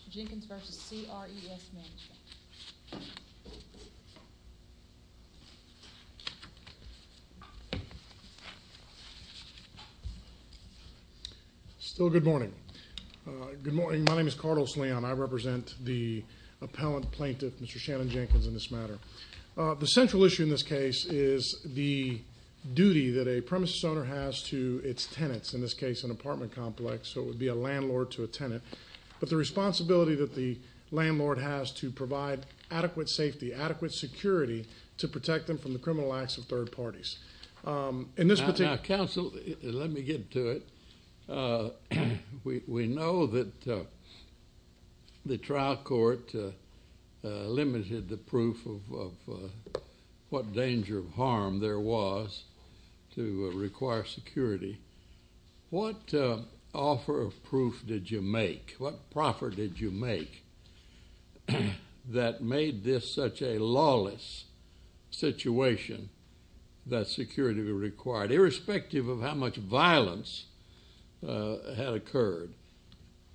al. Mr. Jenkins v. C.R.E.S. Management. Still good morning. Good morning. My name is Cardos Leon. I represent the appellant plaintiff, Mr. Shannon Jenkins, in this matter. The central issue in this case is the duty that a premises owner has to its tenants, but the responsibility that the landlord has to provide adequate safety, adequate security to protect them from the criminal acts of third parties. In this particular Now, counsel, let me get to it. We know that the trial court limited the proof of what danger of harm there was to require security. What offer of proof did you make, what proffer did you make that made this such a lawless situation that security was required, irrespective of how much violence had occurred?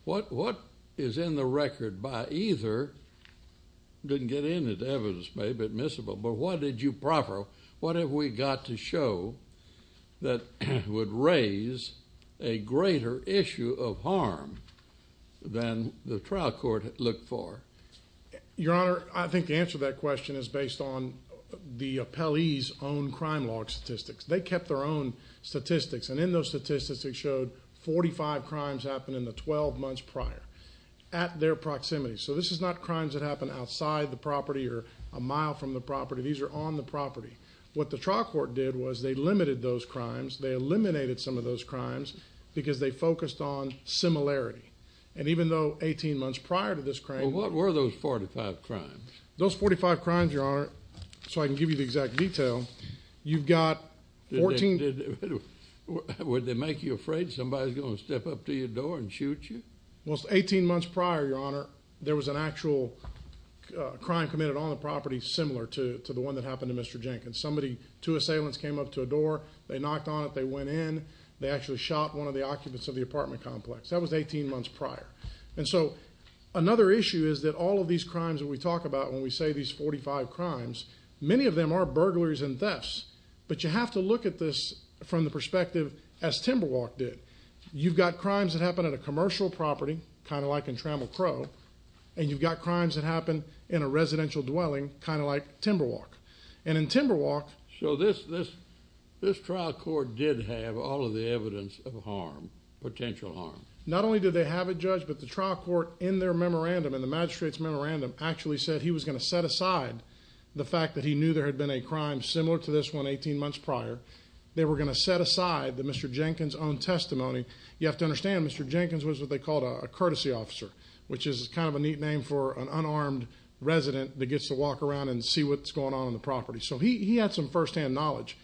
What is in the record by either—didn't get into the evidence, maybe admissible—but what did you proffer? What have we got to show that would raise a greater issue of harm than the trial court looked for? Your Honor, I think the answer to that question is based on the appellee's own crime log statistics. They kept their own statistics, and in those statistics, they showed 45 crimes happened in the 12 months prior at their proximity. So this is not crimes that happened outside the property or a mile from the property. These are on the property. What the trial court did was they limited those crimes. They eliminated some of those crimes because they focused on similarity. And even though 18 months prior to this crime— Well, what were those 45 crimes? Those 45 crimes, Your Honor, so I can give you the exact detail, you've got 14— Would they make you afraid somebody's going to step up to your door and shoot you? Well, 18 months prior, Your Honor, there was an actual crime committed on the property similar to the one that happened to Mr. Jenkins. Two assailants came up to a door. They knocked on it. They went in. They actually shot one of the occupants of the apartment complex. That was 18 months prior. And so another issue is that all of these crimes that we talk about when we say these 45 crimes, many of them are burglaries and thefts, but you have to look at this from the perspective as Timberwalk did. You've got crimes that happened at a commercial property, kind of like in Trammell Crow, and you've got crimes that happened in a residential dwelling, kind of like Timberwalk. And in Timberwalk— So this trial court did have all of the evidence of harm, potential harm? Not only did they have it, Judge, but the trial court in their memorandum and the magistrate's memorandum actually said he was going to set aside the fact that he knew there had been a crime similar to this one 18 months prior. They were going to set aside the Mr. Jenkins' own testimony. You have to understand, Mr. Jenkins was what they called a courtesy officer, which is kind of a neat name for an unarmed resident that gets to walk around and see what's going on on the property. So he had some firsthand knowledge.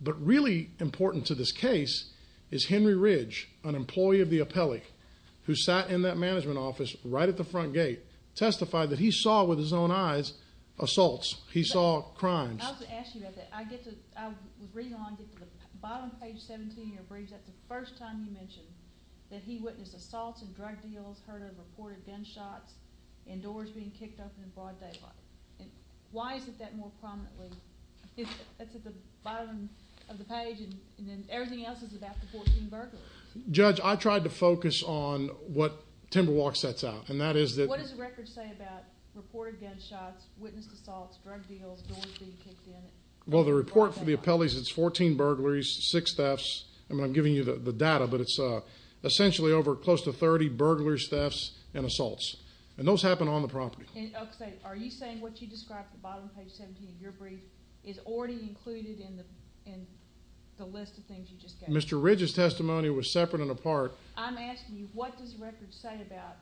But really important to this case is Henry Ridge, an employee of the appellate, who sat in that management office right at the front gate, testified that he saw with his own eyes assaults. He saw crimes. I was going to ask you about that. I get to—I was reading along and I get to the bottom page 17 of your briefs, that's the first time you mentioned that he witnessed assaults and drug deals, heard of reported gunshots. And doors being kicked open in broad daylight. And why is it that more prominently—it's at the bottom of the page and then everything else is about the 14 burglaries. Judge, I tried to focus on what Timberwalk sets out, and that is that— What does the record say about reported gunshots, witnessed assaults, drug deals, doors being kicked in? Well, the report for the appellees, it's 14 burglaries, six thefts. I mean, I'm giving you the data, but it's essentially over close to 30 burglaries, I'm not going to go into the details of that. I'm not going to go into the details of that. And those happen on the property. And, I'll say, are you saying what you described at the bottom of the page 17 of your brief is already included in the list of things you just gave? Mr. Ridge's testimony was separate and apart. I'm asking you, what does the record say about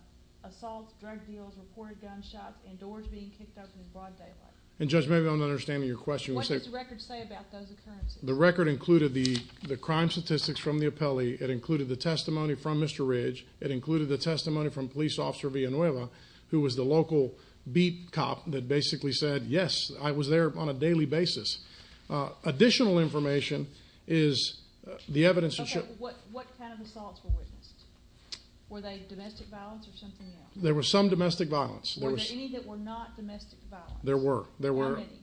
assaults, drug deals, reported gunshots, and doors being kicked open in broad daylight? And, Judge, maybe I'm not understanding your question. What does the record say about those occurrences? The record included the crime statistics from the appellee, it included the testimony from the appellee who was the local beat cop that basically said, yes, I was there on a daily basis. Additional information is the evidence. Okay, what kind of assaults were witnessed? Were they domestic violence or something else? There was some domestic violence. Were there any that were not domestic violence? There were. How many?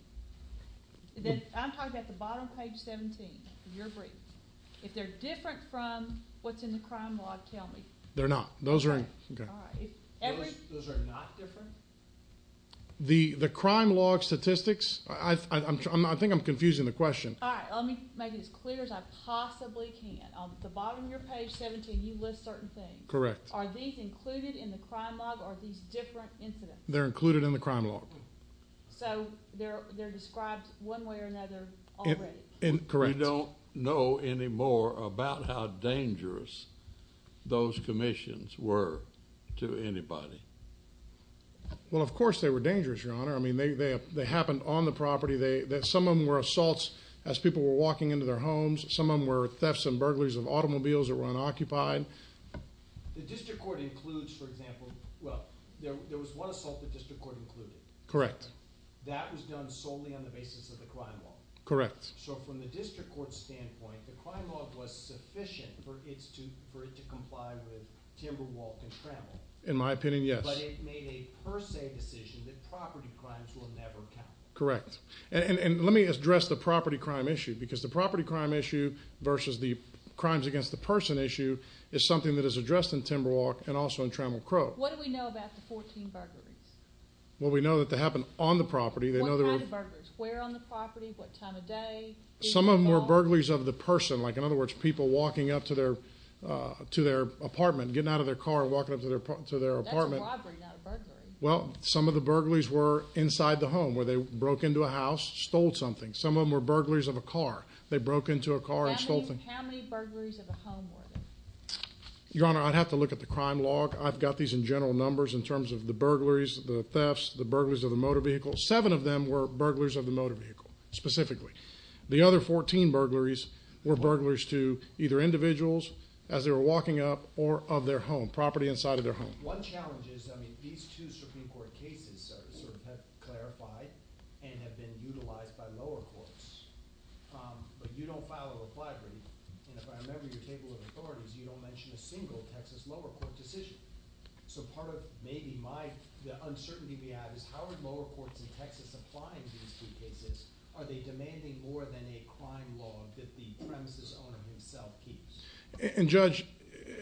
I'm talking about the bottom page 17 of your brief. If they're different from what's in the crime log, tell me. They're not. Those are in. Okay. Those are not different? The crime log statistics, I think I'm confusing the question. All right, let me make it as clear as I possibly can. On the bottom of your page 17, you list certain things. Correct. Are these included in the crime log or are these different incidents? They're included in the crime log. So, they're described one way or another already? Correct. We don't know anymore about how dangerous those commissions were. To anybody. Well, of course they were dangerous, Your Honor. I mean, they happened on the property. Some of them were assaults as people were walking into their homes. Some of them were thefts and burglaries of automobiles that were unoccupied. The district court includes, for example, well, there was one assault the district court included. Correct. That was done solely on the basis of the crime log. Correct. So, from the district court's standpoint, the crime log was sufficient for it to comply with timber wall contracts. In my opinion, yes. But it made a per se decision that property crimes will never count. Correct. And let me address the property crime issue. Because the property crime issue versus the crimes against the person issue is something that is addressed in timber wall and also in Trammell Cove. What do we know about the 14 burglaries? Well, we know that they happened on the property. What kind of burglaries? Where on the property? What time of day? Some of them were burglaries of the person. Like, in other words, people walking up to their apartment, getting out of their car, walking up to their apartment. That's a robbery, not a burglary. Well, some of the burglaries were inside the home where they broke into a house, stole something. Some of them were burglaries of a car. They broke into a car and stole something. How many burglaries of a home were there? Your Honor, I'd have to look at the crime log. I've got these in general numbers in terms of the burglaries, the thefts, the burglaries of the motor vehicle. Seven of them were burglaries of the motor vehicle, specifically. The other 14 burglaries were burglaries to either individuals as they were walking up or of their home, on the property inside of their home. One challenge is, I mean, these two Supreme Court cases sort of have clarified and have been utilized by lower courts. But you don't file a reply brief. And if I remember your table of authorities, you don't mention a single Texas lower court decision. So part of maybe my, the uncertainty we have is how are lower courts in Texas applying these two cases? Are they demanding more than a crime log that the premises owner himself keeps? And Judge,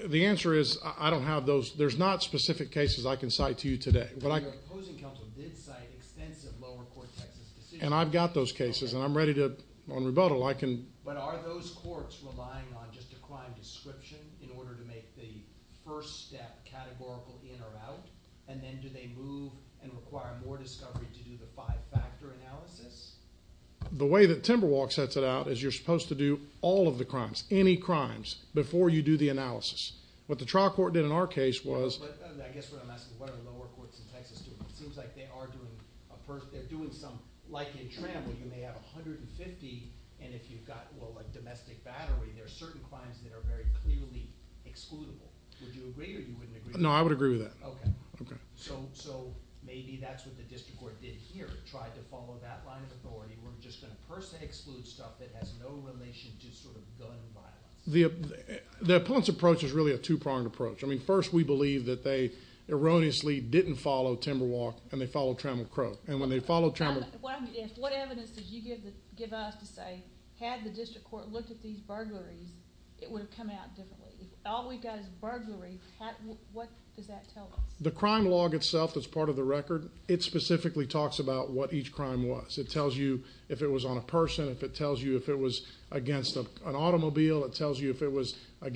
the answer is, I don't have the answer. I don't have those, there's not specific cases I can cite to you today. Your opposing counsel did cite extensive lower court Texas decisions. And I've got those cases and I'm ready to, on rebuttal, I can. But are those courts relying on just a crime description in order to make the first step categorical in or out? And then do they move and require more discovery to do the five-factor analysis? The way that Timberwalk sets it out is you're supposed to do all of the crimes, any crimes, before you do the analysis. What the trial court did in our case was I guess what I'm asking is what are lower courts in Texas doing? It seems like they are doing some, like in Trammell, you may have 150 and if you've got, well, a domestic battery, there are certain crimes that are very clearly excludable. Would you agree or you wouldn't agree? No, I would agree with that. Okay. Okay. So maybe that's what the district court did here. It tried to follow that line of authority. We're just going to personally exclude stuff that has no relation to sort of gun violence. The opponent's approach is really a two-pronged approach. I mean, first, we believe that they erroneously didn't follow Timberwalk and they followed Trammell Crow. And when they followed Trammell Crow What evidence did you give us to say had the district court looked at these burglaries, it would have come out differently? All we've got is burglary. What does that tell us? The crime log itself that's part of the record, it specifically talks about what each crime was. It tells you if it was on a person, if it tells you if it was against an automobile, it tells you if it was on a vehicle.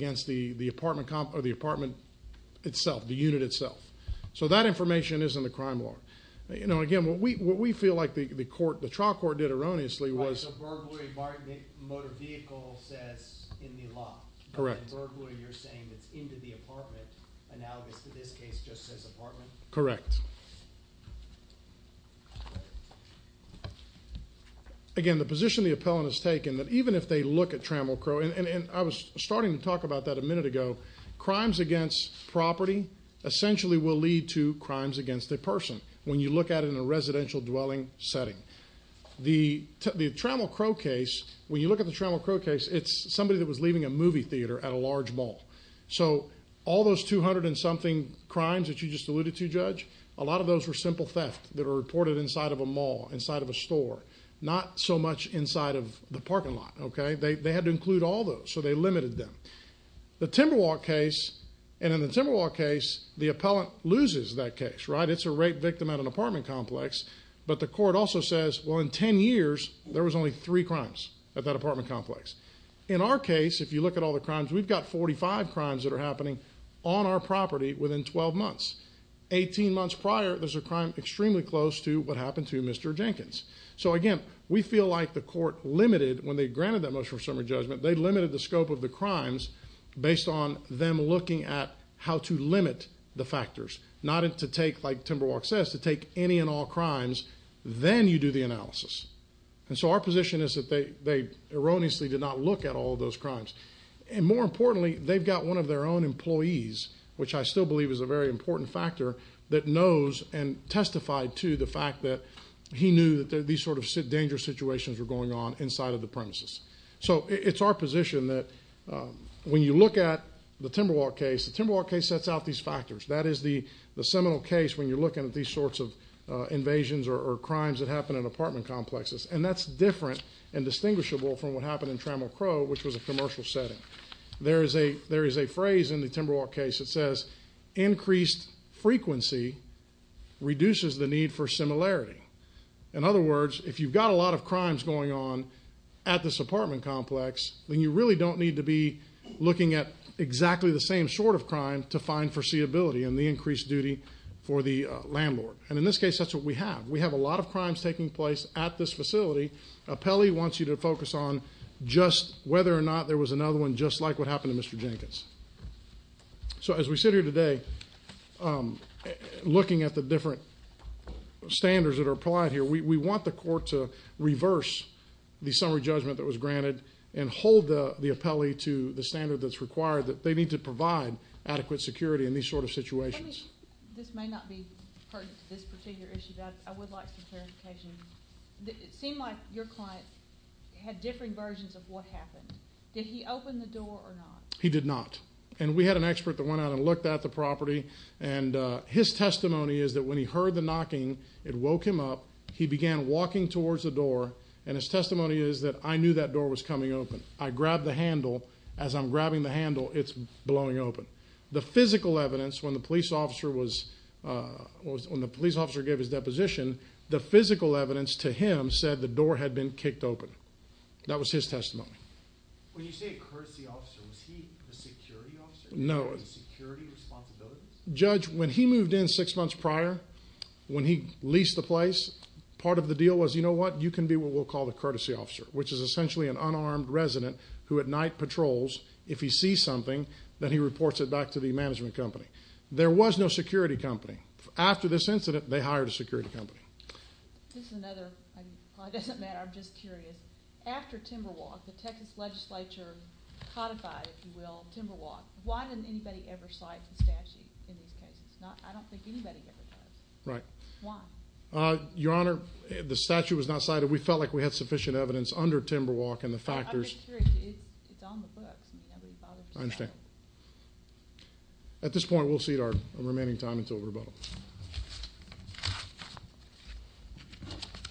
It tells you if it was against the apartment itself, the unit itself. So that information is in the crime log. You know, again, what we feel like the trial court did erroneously was Right, so burglary, motor vehicle says in the law. Correct. And then burglary, you're saying it's into the apartment, analogous to this case, just says apartment? Correct. Again, the position the appellant has taken, that even if they look at Trammell Crow and I was starting to talk about that a minute ago. Crimes against property essentially will lead to crimes against a person when you look at it in a residential dwelling setting. The Trammell Crow case, when you look at the Trammell Crow case, it's somebody that was leaving a movie theater at a large mall. So all those 200 and something crimes that you just alluded to, Judge, a lot of those were simple theft that are reported inside of a mall, inside of a store, not so much inside of the parking lot, okay? They had to include all those, so they limited them. The Timberwalk case, and in the Timberwalk case, the appellant loses that case, right? It's a rape victim at an apartment complex. But the court also says, well, in 10 years, there was only three crimes at that apartment complex. In our case, if you look at all the crimes, we've got 45 crimes that are happening on our property within 12 months. 18 months prior, there's a crime extremely close to what happened to Mr. Jenkins. So again, we feel like the court limited when they granted that motion of summary judgment, they limited the scope of the crimes based on them looking at how to limit the factors, not to take, like Timberwalk says, to take any and all crimes, then you do the analysis. And so our position is that they erroneously did not look at all of those crimes. And more importantly, they've got one of their own employees, which I still believe is a very important factor, that knows and testified to the fact that he knew that these sort of dangerous situations were going on inside of the premises. So it's our position that when you look at the Timberwalk case, the Timberwalk case sets out these factors. That is the seminal case when you're looking at these sorts of invasions or crimes that happen in apartment complexes. And that's different and distinguishable from what happened in Trammell Crow, which was a commercial setting. There is a phrase in the Timberwalk case that says increased frequency reduces the need for similarity. In other words, if you've got a lot of crimes going on at this apartment complex, then you really don't need to be looking at exactly the same sort of crime to find foreseeability and the increased duty for the landlord. And in this case, that's what we have. We have a lot of crimes taking place at this facility. Pelley wants you to focus on just whether or not there was another one just like what happened to Mr. Jenkins. So as we sit here today, looking at the different standards that are applied here, we want the court to reverse the summary judgment that was granted and hold the appellee to the standard that's required that they need to provide adequate security in these sort of situations. This may not be pertinent to this particular issue, but I would like some clarification. It seemed like your client had different versions of what happened. Did he open the door or not? He did not. And we had an expert that went out and looked at the property. And his testimony is that when he heard the knocking, it woke him up. And his testimony is that I knew that door was coming open. I grabbed the handle. As I'm grabbing the handle, it's blowing open. The physical evidence, when the police officer gave his deposition, the physical evidence to him said the door had been kicked open. That was his testimony. When you say a courtesy officer, was he a security officer? No. Security responsibilities? Judge, when he moved in six months prior, when he leased the place, part of the deal was, you know what, you can be what we'll call the courtesy officer, which is essentially an unarmed resident who at night patrols. If he sees something, then he reports it back to the management company. There was no security company. After this incident, they hired a security company. This is another. It doesn't matter. I'm just curious. After Timberwalk, the Texas legislature codified, if you will, Timberwalk, why didn't anybody ever cite the statute in these cases? I don't think anybody ever does. Right. Why? Your Honor, the statute was not cited. We felt like we had sufficient evidence under Timberwalk and the factors. I'm just curious. It's on the books. Nobody bothered to cite it. I understand. At this point, we'll cede our remaining time until rebuttal. Thank you.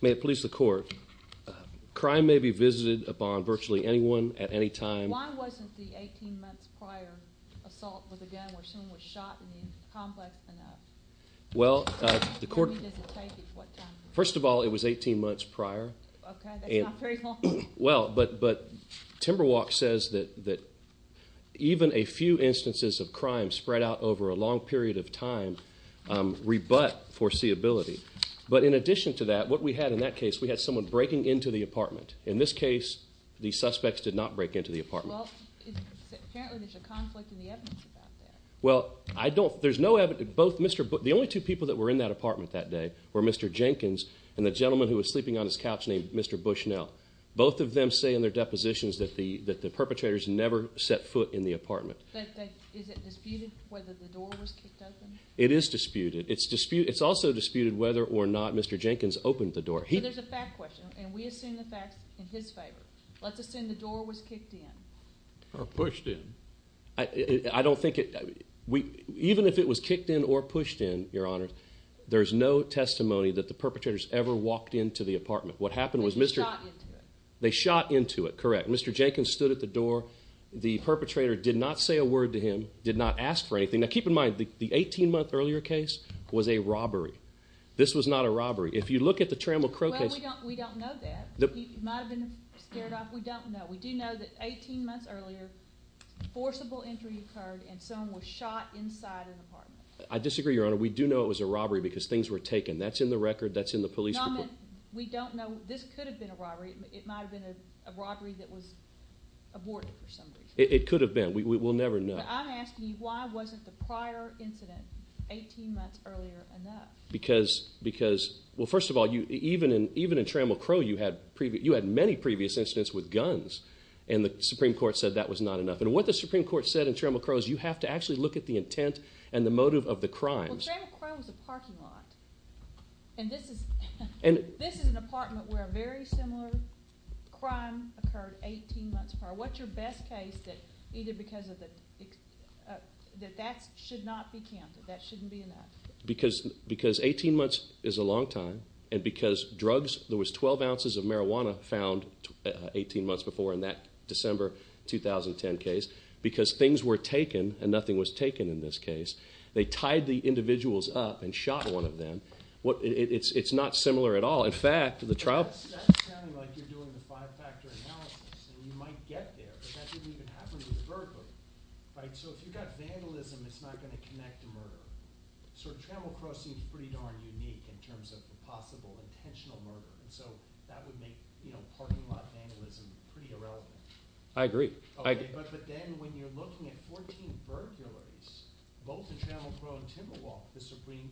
May it please the court. Crime may be visited upon virtually anyone at any time. Why wasn't the 18 months prior assault with a gun where someone was shot in the complex enough? Well, the court... When does it take it? What time? First of all, it was 18 months prior. Okay. That's not very long. Well, but Timberwalk says that even a few instances of crime spread out over a long period of time rebut foreseeability. But in addition to that, what we had in that case, we had someone breaking into the apartment. In this case, the suspects did not break into the apartment. Well, apparently there's a conflict in the evidence about that. Well, I don't... There's no evidence... The only two people that were in that apartment that day were Mr. Jenkins and the gentleman who was sleeping on his couch named Mr. Bushnell. Both of them say in their depositions that the perpetrators never set foot in the apartment. But is it disputed whether the door was kicked open? It is disputed. It's disputed... It's also disputed whether or not Mr. Jenkins opened the door. But there's a fact question and we assume the facts in his favor. Let's assume the door was kicked in. Or pushed in. I don't think it... Even if it was kicked in or pushed in, Your Honor, there's no testimony that the perpetrators What happened was Mr... They shot into it. They shot into it. Correct. Mr. Jenkins stood at the door. The perpetrator did not set foot in the apartment. Did not say a word to him. Did not ask for anything. Now keep in mind the 18 month earlier case was a robbery. This was not a robbery. If you look at the Trammell Crow case... Well, we don't know that. He might have been scared off. We don't know. We do know that 18 months earlier forcible entry occurred and someone was shot inside an apartment. I disagree, Your Honor. We do know it was a robbery because things were taken. That's in the record. That's in the police report. We don't know... This could have been a robbery. It might have been a robbery that was aborted for some reason. It could have been. We'll never know. But I'm asking you why wasn't the prior incident 18 months earlier enough? Because... Well, first of all, even in Trammell Crow you had many previous incidents with guns and the Supreme Court said that was not enough. And what the Supreme Court said in Trammell Crow is you have to actually look at the intent and the motive of the crimes. Well, Trammell Crow was a parking lot and this is an apartment where a very similar crime occurred 18 months prior. What's your best case that either because of the... that that should not be counted. That shouldn't be enough. Because 18 months is a long time and because drugs... There was 12 ounces of marijuana found 18 months before in that December 2010 case because things were taken and nothing was taken in this case. They tied the individuals up and shot one of them. It's not similar at all. In fact, the trial... That's sounding like you're doing the five-factor analysis and you might get there but that didn't even happen to the burglar. So if you've got vandalism it's not going to connect to murder. So Trammell Crow seems pretty darn unique in terms of the possible intentional murder. So that would make parking lot vandalism pretty irrelevant. I agree. But then when you're looking at 14 burglaries both in Trammell Crow and Tinder Walk the Supreme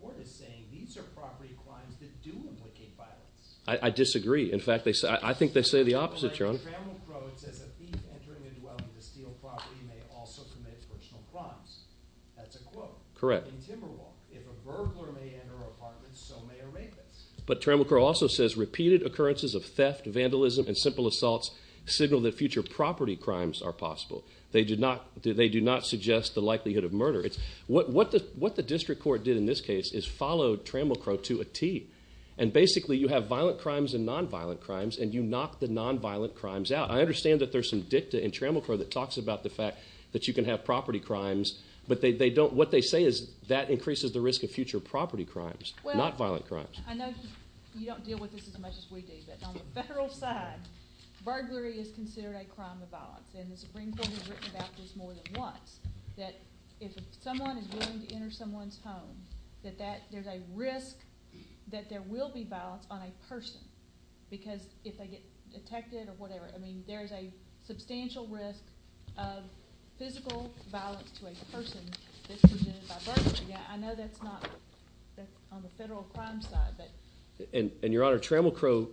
Court is saying these are property crimes that do implicate violence. I disagree. In fact, I think they say the opposite, Your Honor. Trammell Crow says a thief entering a dwelling to steal property may also commit personal crimes. That's a quote. Correct. In Tinder Walk if a burglar may enter an apartment so may a rapist. But Trammell Crow also says repeated occurrences of theft vandalism and simple assaults signal that future property crimes are possible. They do not suggest the likelihood of murder. What the district court did in this case is follow Trammell Crow to a T. And basically you have violent crimes and non-violent crimes and you knock the non-violent crimes out. I understand that there's some dicta in Trammell Crow that talks about the fact that you can have property crimes but they don't what they say is that increases the risk of future property crimes not violent crimes. I know you don't deal with this as much as we do but on the federal side burglary is considered a crime of violence and the Supreme Court has written about this more than once that if someone is willing to enter someone's home that there's a risk that there will be violence on a person because if they get protected or whatever I mean there's a substantial risk of physical violence to a person that's considered by burglary. I know that's not on the federal crime side but... And your honor Trammell Crow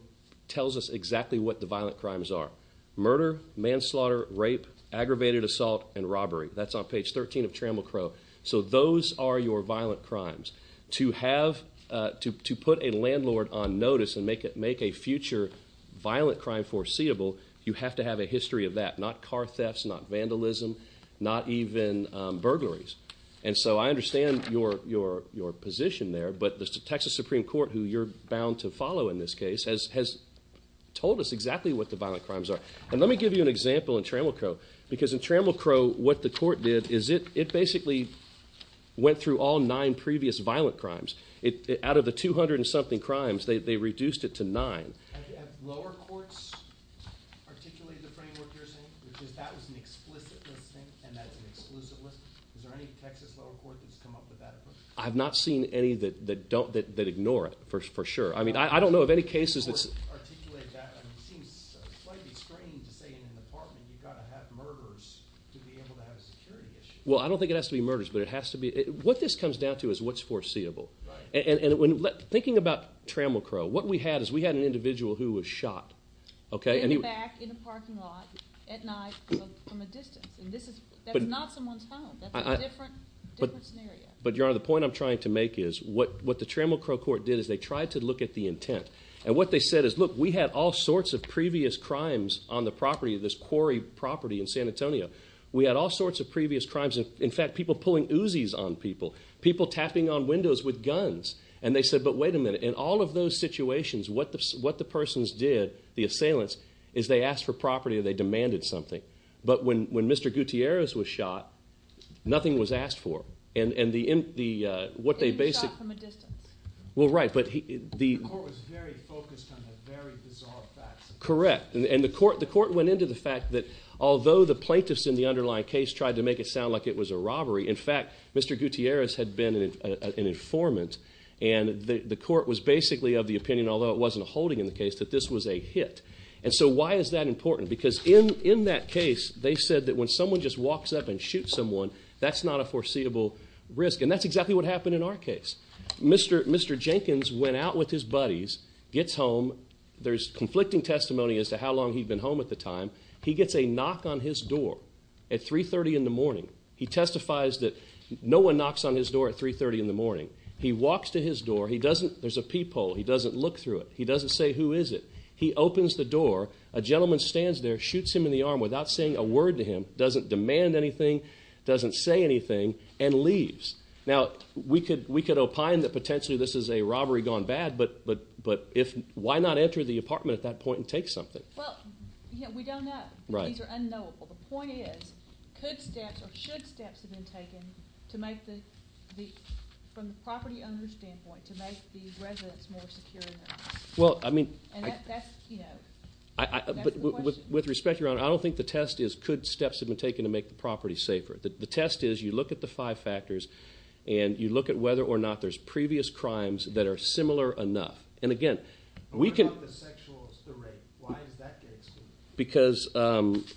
tells us exactly what the violent crimes are. Murder, manslaughter, rape, aggravated assault and robbery. That's on page 13 of Trammell Crow. So those are your violent crimes. To have to put a landlord on notice and make a future violent crime foreseeable you have to have a history of that. Not car thefts, not vandalism, not even burglaries. And so I understand your position there but the Texas Supreme Court who you're bound to follow in this case has told us exactly what the violent crimes are. And let me give you an example in Trammell Crow because in Trammell Crow what the court did is it basically went through all nine previous violent crimes. Out of the two hundred and something crimes they reduced it to nine. Have lower courts articulated the framework you're saying? Because that was an explicit listing and that's an exclusive listing. Is there any Texas lower court that's come up with that? I've not seen any that don't, that ignore it for sure. I mean I don't know of any cases that The Supreme Court articulated that and it seems slightly strange to say in an apartment you've got to have murders to be able to have a security issue. Well I don't think it has to be murders but it has to be, what this comes down to is what's foreseeable. And thinking about Trammell Crow, what we had is we had an individual who was shot. In the back, in the parking lot, at night, from a distance. And this is, that's not someone's home. That's a different scenario. But Your Honor, the point I'm trying to make is what the Trammell Crow court did is they tried to look at the intent. And what they said is look we had all sorts of previous crimes on the property, this quarry property in San Antonio. We had all sorts of previous crimes, in fact people pulling Uzis on people, people tapping on windows with guns. And they said, but wait a minute, in all of those situations what the persons did, the assailants, is they asked for property or they demanded something. But when Mr. Gutierrez was shot, nothing was asked for. And the, what they basically, He was shot from a distance. Well right, but he, The court was very focused on the very bizarre facts. Correct. And the court went into the fact that although the plaintiffs in the underlying case tried to make it sound like it was a robbery, in fact Mr. Gutierrez had been an informant and the court was basically of the opinion, although it wasn't a holding in the case, that this was a hit. And so why is that important? Because in that case they said that when someone just walks up and shoots someone that's not a foreseeable risk. And that's exactly what happened in our case. Mr. Jenkins went out with his buddies, gets home, there's conflicting testimony as to how long he'd been home at the time. He gets a knock on his door at 3.30 in the morning. He testifies that no one knocks on his door at 3.30 in the morning. He walks to his door. There's a peephole. He doesn't look through it. He doesn't say, who is it? He opens the door. A gentleman stands there, shoots him in the arm without saying a word to him, doesn't demand anything, doesn't say anything, and leaves. Now we could opine that potentially this is a robbery gone bad, but why not enter the apartment at that point and take something? Well, we don't know. Right. These are unknowable. The point is, could steps or should steps have been taken to make the, from the property owner's standpoint, to make the residents more secure in their homes? Well, I mean... And that's the keynote. That's the question. With respect, Your Honor, I don't think the test is could steps have been taken to make the property safer. The test is you look at the five factors and you look at whether or not there's previous crimes that are similar enough. And again, we can... What about the sexual, the rape? Why does that get excluded? Because... Because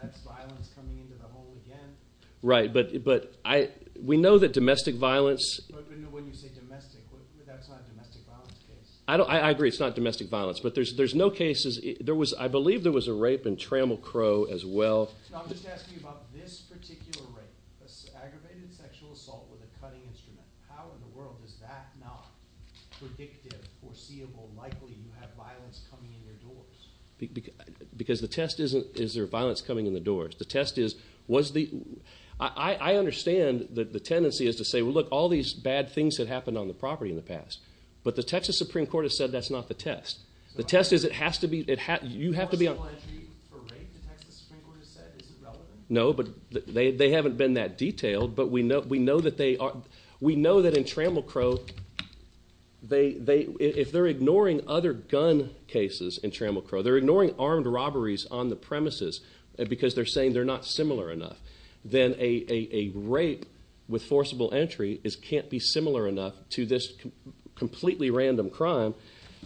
that's violence coming into the home again? Right. But I... We know that domestic violence... But when you say domestic, that's not a domestic violence case. I agree. It's not domestic violence. But there's no cases... There was... I believe there was a rape in Trammell Crow as well. No, I'm just asking you about this particular rape. Aggravated sexual assault with a cutting instrument. How in the world is that not predictive, foreseeable, likely you have violence coming in your doors? Because the test isn't is there violence coming in the doors. The test is was the... I understand that the tendency is to say, well, look, all these bad things that happened on the property in the past. But the Texas Supreme Court has said that's not the test. The test is it has to be... You have to be... For rape, the Texas Supreme Court has said it's irrelevant. No, but they haven't been that detailed. But we know that they are... We know that in Trammell Crow, they... If they're ignoring other gun cases in Trammell Crow, they're ignoring armed robberies on the premises because they're saying they're not similar enough. Then a rape with forcible entry can't be similar enough to this completely random crime.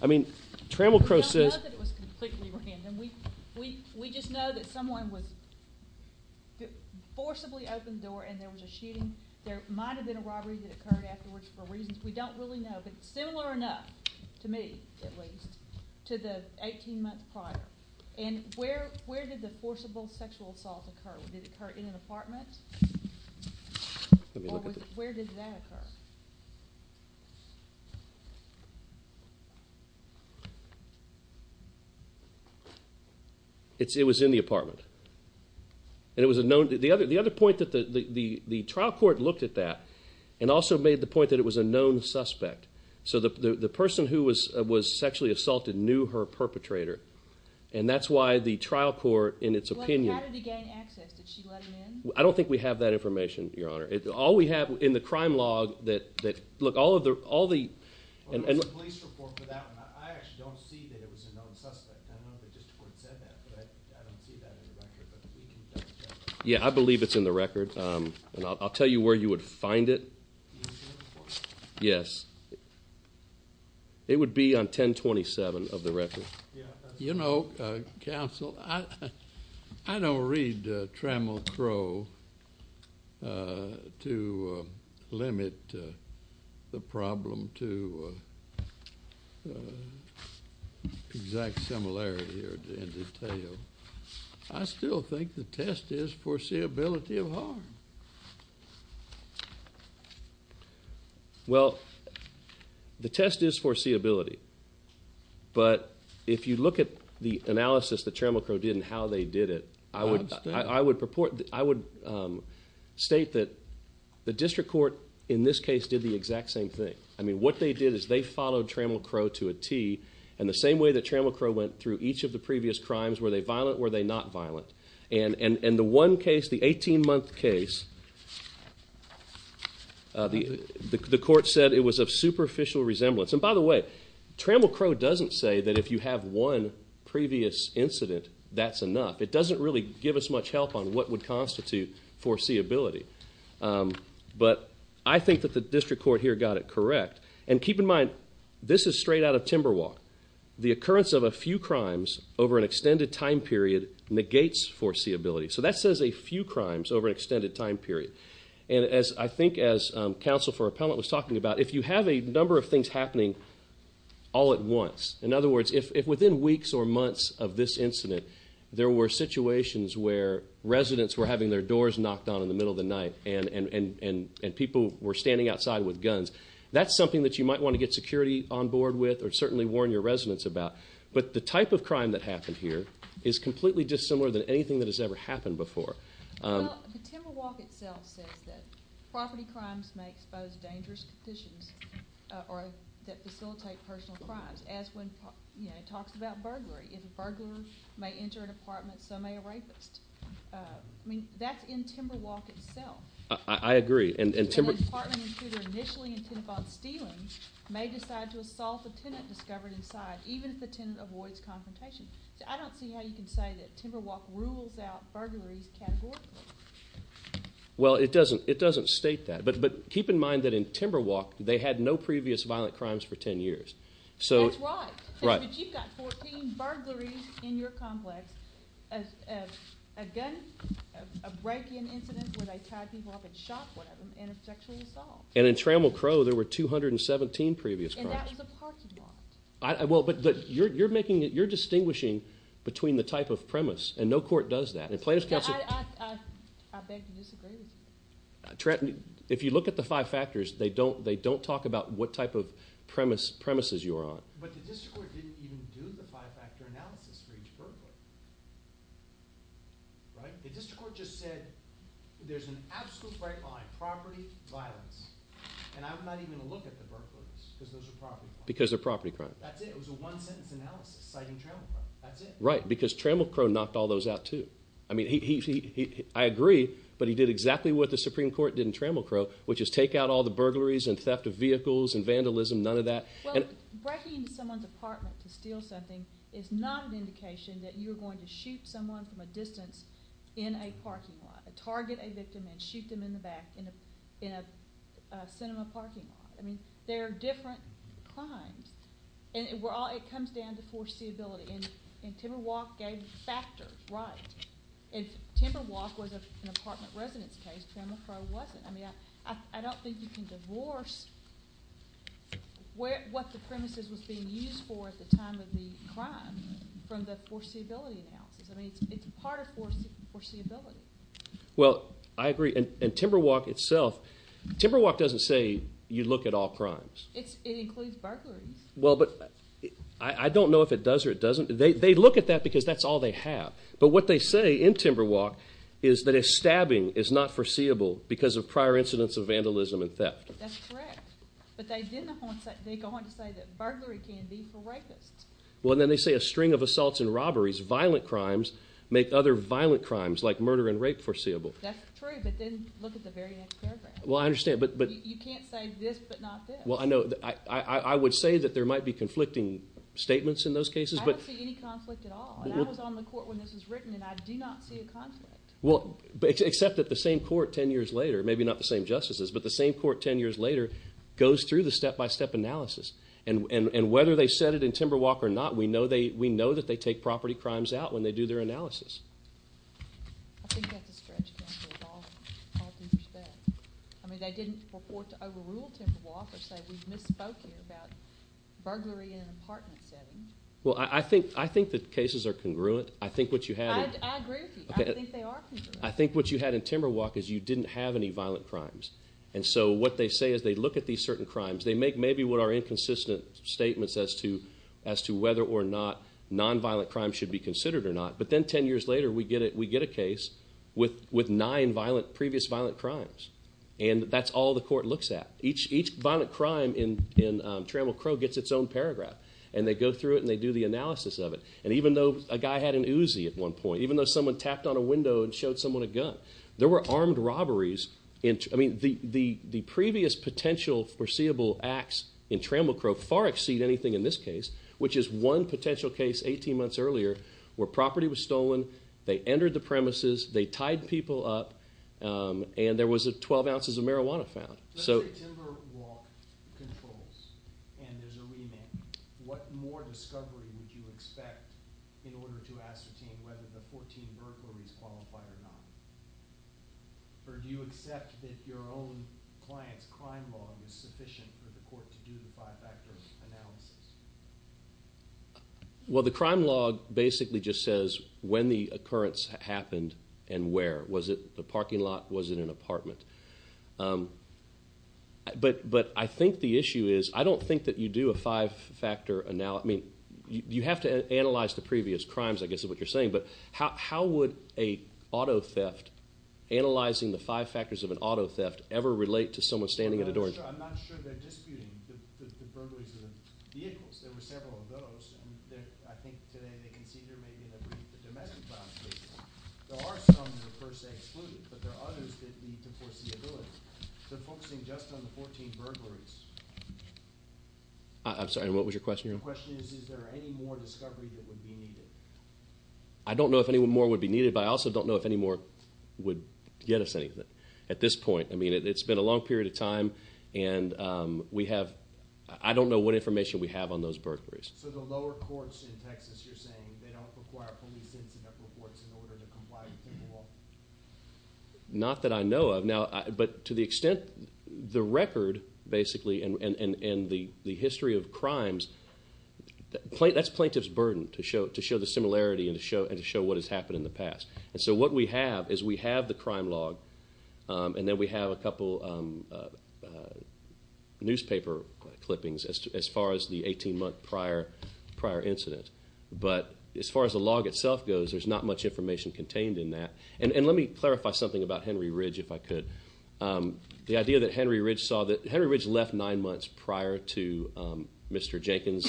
I mean, Trammell Crow says... It's not that it was completely random. We just know that someone was forcibly opened the door and there was a shooting. There might have been a robbery that occurred afterwards for reasons we don't really know. But similar enough to me, at least, to the 18 months prior. And where did the forcible sexual assault occur? Did it occur in an apartment? Or where did that occur? It was in the apartment. And it was a known... The other point that the trial court looked at that and also made the point that it was a known suspect. So the person who was sexually assaulted knew her perpetrator. And that's why the trial court, in its opinion... How did he gain access? Did she let him in? I don't think we have that information, Your Honor. All we have in the crime log... Look, all of the... Yeah, I believe it's in the record. And I'll tell you where you would find it. Yes. It would be on 1027 of the record. You know, Counsel, I don't read Trammell Crowe to limit the problem to exact similarity or in detail. I still think the test is foreseeability of harm. Well, the test is foreseeability. But if you look at the analysis that Trammell Crowe did and how they did it, I would state that the district court, in this case, did the exact same thing. I mean, what they did is they followed Trammell Crowe to a T in the same way that Trammell Crowe went through each of the previous crimes. Were they violent or were they not violent? And the one case, the 18-month case, the court said it was of superficial resemblance. And by the way, Trammell Crowe doesn't say that if you have one previous incident, that's enough. It doesn't really give us much help on what would constitute foreseeability. But I think that the district court here got it correct. And keep in mind, this is straight out of Timberwalk. The occurrence of a few crimes over an extended time period negates foreseeability. So that says a few crimes over an extended time period. And I think as Counsel for Appellant was talking about, if you have a number of things happening all at once, in other words, if within weeks or months of this incident, there were situations where residents were having their doors knocked on in the middle of the night and people were standing outside with guns, that's something that you might want to get security on board with or certainly warn your residents about. But the type of crime that happened here is completely dissimilar than anything that has ever happened before. Well, the Timberwalk itself says that property crimes may expose dangerous conditions that facilitate personal crimes, as when it talks about burglary. If a burglar may enter an apartment, so may a rapist. I mean, that's in Timberwalk itself. I agree. And an apartment intruder initially intended upon stealing may decide to assault a tenant discovered inside, even if the tenant avoids confrontation. I don't see how you can say that Timberwalk rules out burglaries categorically. Well, it doesn't state that. But keep in mind that in Timberwalk, they had no previous violent crimes for 10 years. That's right. But you've got 14 burglaries in your complex. A break-in incident where they tied people up and shot one of them in a sexual assault. And in Trammell Crow, there were 217 previous crimes. And that was a parking lot. But you're distinguishing between the type of premise, and no court does that. And Plaintiff's Counsel... I beg to disagree with you. If you look at the five factors, they don't talk about what type of premises you're on. But the district court didn't even do the five-factor analysis for each burglar. Right? The district court just said there's an absolute break-line, property, violence. And I'm not even going to look at the burglaries because those are property crimes. Because they're property crimes. That's it. It was a one-sentence analysis citing Trammell Crow. That's it. Right, because Trammell Crow knocked all those out, too. I mean, I agree, but he did exactly what the Supreme Court did in Trammell Crow, which is take out all the burglaries and theft of vehicles and vandalism. None of that. Well, breaking into someone's apartment to steal something is not an indication that you're going to shoot someone from a distance in a parking lot, target a victim, and shoot them in the back in a cinema parking lot. I mean, they're different crimes. And it comes down to foreseeability. And Timberwalk gave the factors right. If Timberwalk was an apartment residence case, Trammell Crow wasn't. I mean, I don't think you can divorce what the premises was being used for at the time of the crime from the foreseeability analysis. I mean, it's part of foreseeability. Well, I agree. And Timberwalk itself, Timberwalk doesn't say you look at all crimes. It includes burglaries. Well, but I don't know if it does or it doesn't. They look at that because that's all they have. But what they say in Timberwalk is that if stabbing is not foreseeable because of prior incidents of vandalism and theft. That's correct. But they go on to say that burglary can be for rapists. Well, and then they say a string of assaults and robberies, violent crimes, make other violent crimes like murder and rape foreseeable. That's true. But then look at the very next paragraph. Well, I understand. You can't say this but not this. Well, I know. I would say that there might be conflicting statements in those cases. I don't see any conflict at all. And I was on the court when this was written and I do not see a conflict. Well, except that the same court 10 years later, maybe not the same justices, but the same court 10 years later goes through the step-by-step analysis. And whether they said it in Timberwalk or not, we know that they take property crimes out when they do their analysis. I think that's a stretch. I mean, they didn't report to overrule Timberwalk or say we misspoke here about burglary in an apartment setting. Well, I think the cases are congruent. I think what you had... I agree with you. I think they are congruent. I think what you had in Timberwalk is you didn't have any violent crimes. And so what they say is they look at these certain crimes. They make maybe what are inconsistent statements as to whether or not nonviolent crimes should be considered or not. But then 10 years later, we get a case with nine previous violent crimes. And that's all the court looks at. Each violent crime in Trammell Crow gets its own paragraph. And they go through it and they do the analysis of it. And even though a guy had an Uzi at one point, even though someone tapped on a window and showed someone a gun, there were armed robberies. I mean, the previous potential foreseeable acts in Trammell Crow far exceed anything in this case, which is one potential case 18 months earlier where property was stolen, they entered the premises, they tied people up, and there was 12 ounces of marijuana found. So... If Timberwalk controls and there's a remand, what more discovery would you expect in order to ascertain whether the 14 burglaries qualify or not? Or do you accept that your own client's crime log is sufficient for the court to do the five-factor analysis? Well, the crime log basically just says when the occurrence happened and where. Was it the parking lot? Was it an apartment? But I think the issue is I don't think that you do a five-factor analysis. I mean, you have to analyze the previous crimes, I guess is what you're saying. But how would a auto theft, analyzing the five factors of an auto theft, ever relate to someone standing at a door? I'm not sure they're disputing the burglaries of the vehicles. There were several of those, and I think today they consider maybe in a brief the domestic violence cases. There are some that are per se excluded, but there are others that need to foresee abilities. They're focusing just on the 14 burglaries. I'm sorry, what was your question again? My question is, is there any more discovery that would be needed? I don't know if any more would be needed, but I also don't know if any more would get us anything at this point. I mean, it's been a long period of time, and I don't know what information we have on those burglaries. So the lower courts in Texas, you're saying, they don't require police incident reports in order to comply with the law? Not that I know of. But to the extent the record, basically, and the history of crimes, that's plaintiff's burden to show the similarity and to show what has happened in the past. And so what we have is we have the crime log, and then we have a couple newspaper clippings as far as the 18-month prior incident. But as far as the log itself goes, there's not much information contained in that. And let me clarify something about Henry Ridge, if I could. The idea that Henry Ridge saw that Henry Ridge left nine months prior to Mr. Jenkins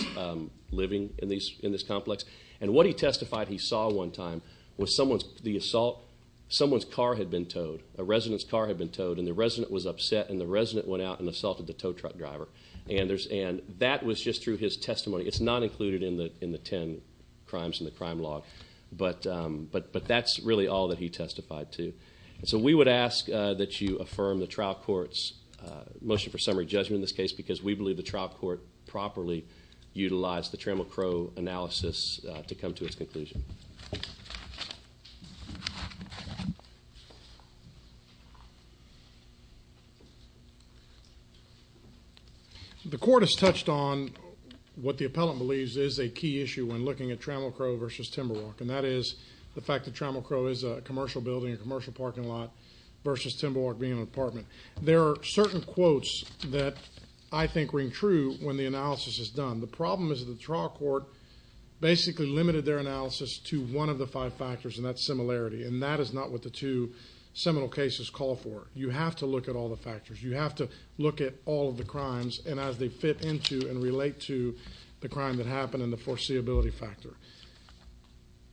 living in this complex. And what he testified he saw one time was someone's car had been towed, a resident's car had been towed, and the resident was upset, and the resident went out and assaulted the tow truck driver. And that was just through his testimony. It's not included in the 10 crimes in the crime log. But that's really all that he testified to. And so we would ask that you affirm the trial court's motion for summary judgment in this case because we believe the trial court properly utilized the Trammell Crowe analysis to come to its conclusion. The court has touched on what the appellant believes is a key issue when looking at Trammell Crowe versus Timberwalk, and that is the fact that Trammell Crowe is a commercial building, a commercial parking lot, versus Timberwalk being an apartment. There are certain quotes that I think ring true when the analysis is done. The problem is the trial court basically limited their analysis to one of the five factors, and that's similarity, and that is not what the two seminal cases call for. You have to look at all the factors. You have to look at all of the crimes, and as they fit into and relate to the crime that happened and the foreseeability factor.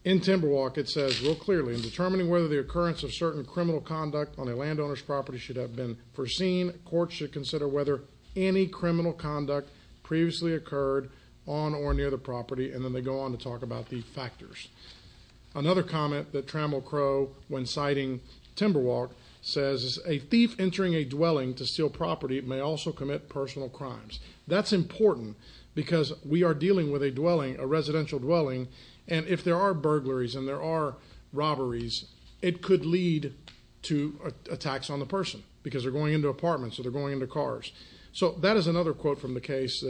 In Timberwalk it says real clearly, in determining whether the occurrence of certain criminal conduct on a landowner's property should have been foreseen, courts should consider whether any criminal conduct previously occurred on or near the property, and then they go on to talk about the factors. Another comment that Trammell Crowe, when citing Timberwalk, says, a thief entering a dwelling to steal property may also commit personal crimes. That's important because we are dealing with a dwelling, a residential dwelling, and if there are burglaries and there are robberies, it could lead to attacks on the person because they're going into apartments or they're going into cars. So that is another quote from the case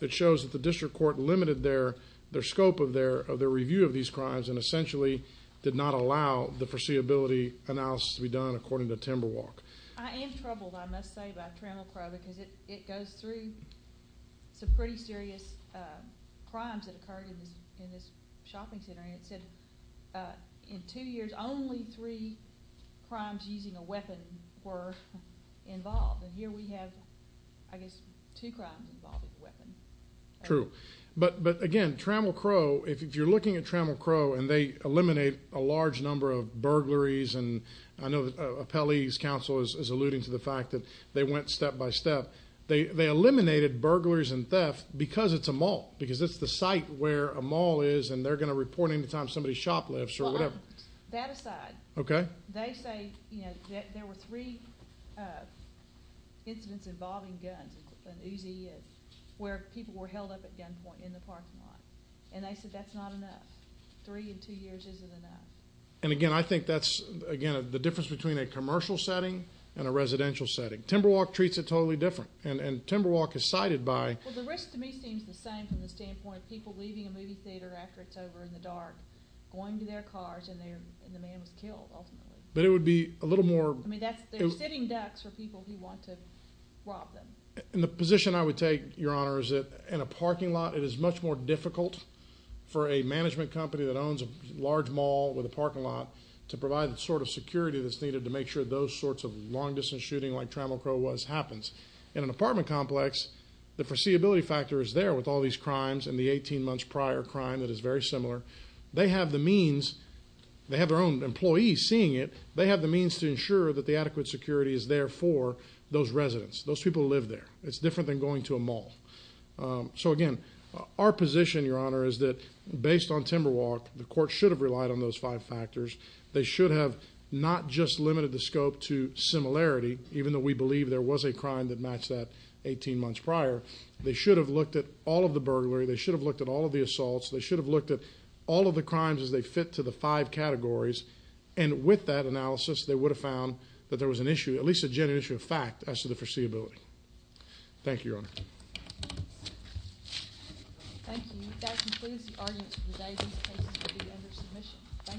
that shows that the district court limited their scope of their review of these crimes and essentially did not allow the foreseeability analysis to be done according to Timberwalk. I am troubled, I must say, by Trammell Crowe because it goes through some pretty serious crimes that occurred in this shopping center, and it said in two years only three crimes using a weapon were involved, and here we have, I guess, two crimes involving a weapon. True. But again, Trammell Crowe, if you're looking at Trammell Crowe and they eliminate a large number of burglaries, and I know Appellee's Counsel is alluding to the fact that they went step by step, they eliminated burglaries and theft because it's a mall, because it's the site where a mall is and they're going to report any time somebody shoplifts or whatever. Well, that aside, they say there were three incidents involving guns, where people were held up at gunpoint in the parking lot, and they said that's not enough. Three in two years isn't enough. And again, I think that's the difference between a commercial setting and a residential setting. Timberwalk treats it totally different, and Timberwalk is cited by... Well, the risk to me seems the same from the standpoint of people leaving a movie theater after it's over in the dark, going to their cars, and the man was killed, ultimately. But it would be a little more... I mean, they're sitting ducks for people who want to rob them. And the position I would take, Your Honor, is that in a parking lot it is much more difficult for a management company that owns a large mall with a parking lot to provide the sort of security that's needed to make sure those sorts of long-distance shooting like Trammell Crowe was happens. In an apartment complex, the foreseeability factor is there with all these crimes and the 18 months prior crime that is very similar. They have the means. They have their own employees seeing it. They have the means to ensure that the adequate security is there for those residents, those people who live there. It's different than going to a mall. So again, our position, Your Honor, is that based on Timberwalk, the court should have relied on those five factors. They should have not just limited the scope to similarity, even though we believe there was a crime that matched that 18 months prior. They should have looked at all of the burglary. They should have looked at all of the assaults. They should have looked at all of the crimes as they fit to the five categories. And with that analysis, they would have found that there was an issue, at least a genuine issue of fact, as to the foreseeability. Thank you, Your Honor. Thank you. That concludes the arguments for today. These cases will be under submission.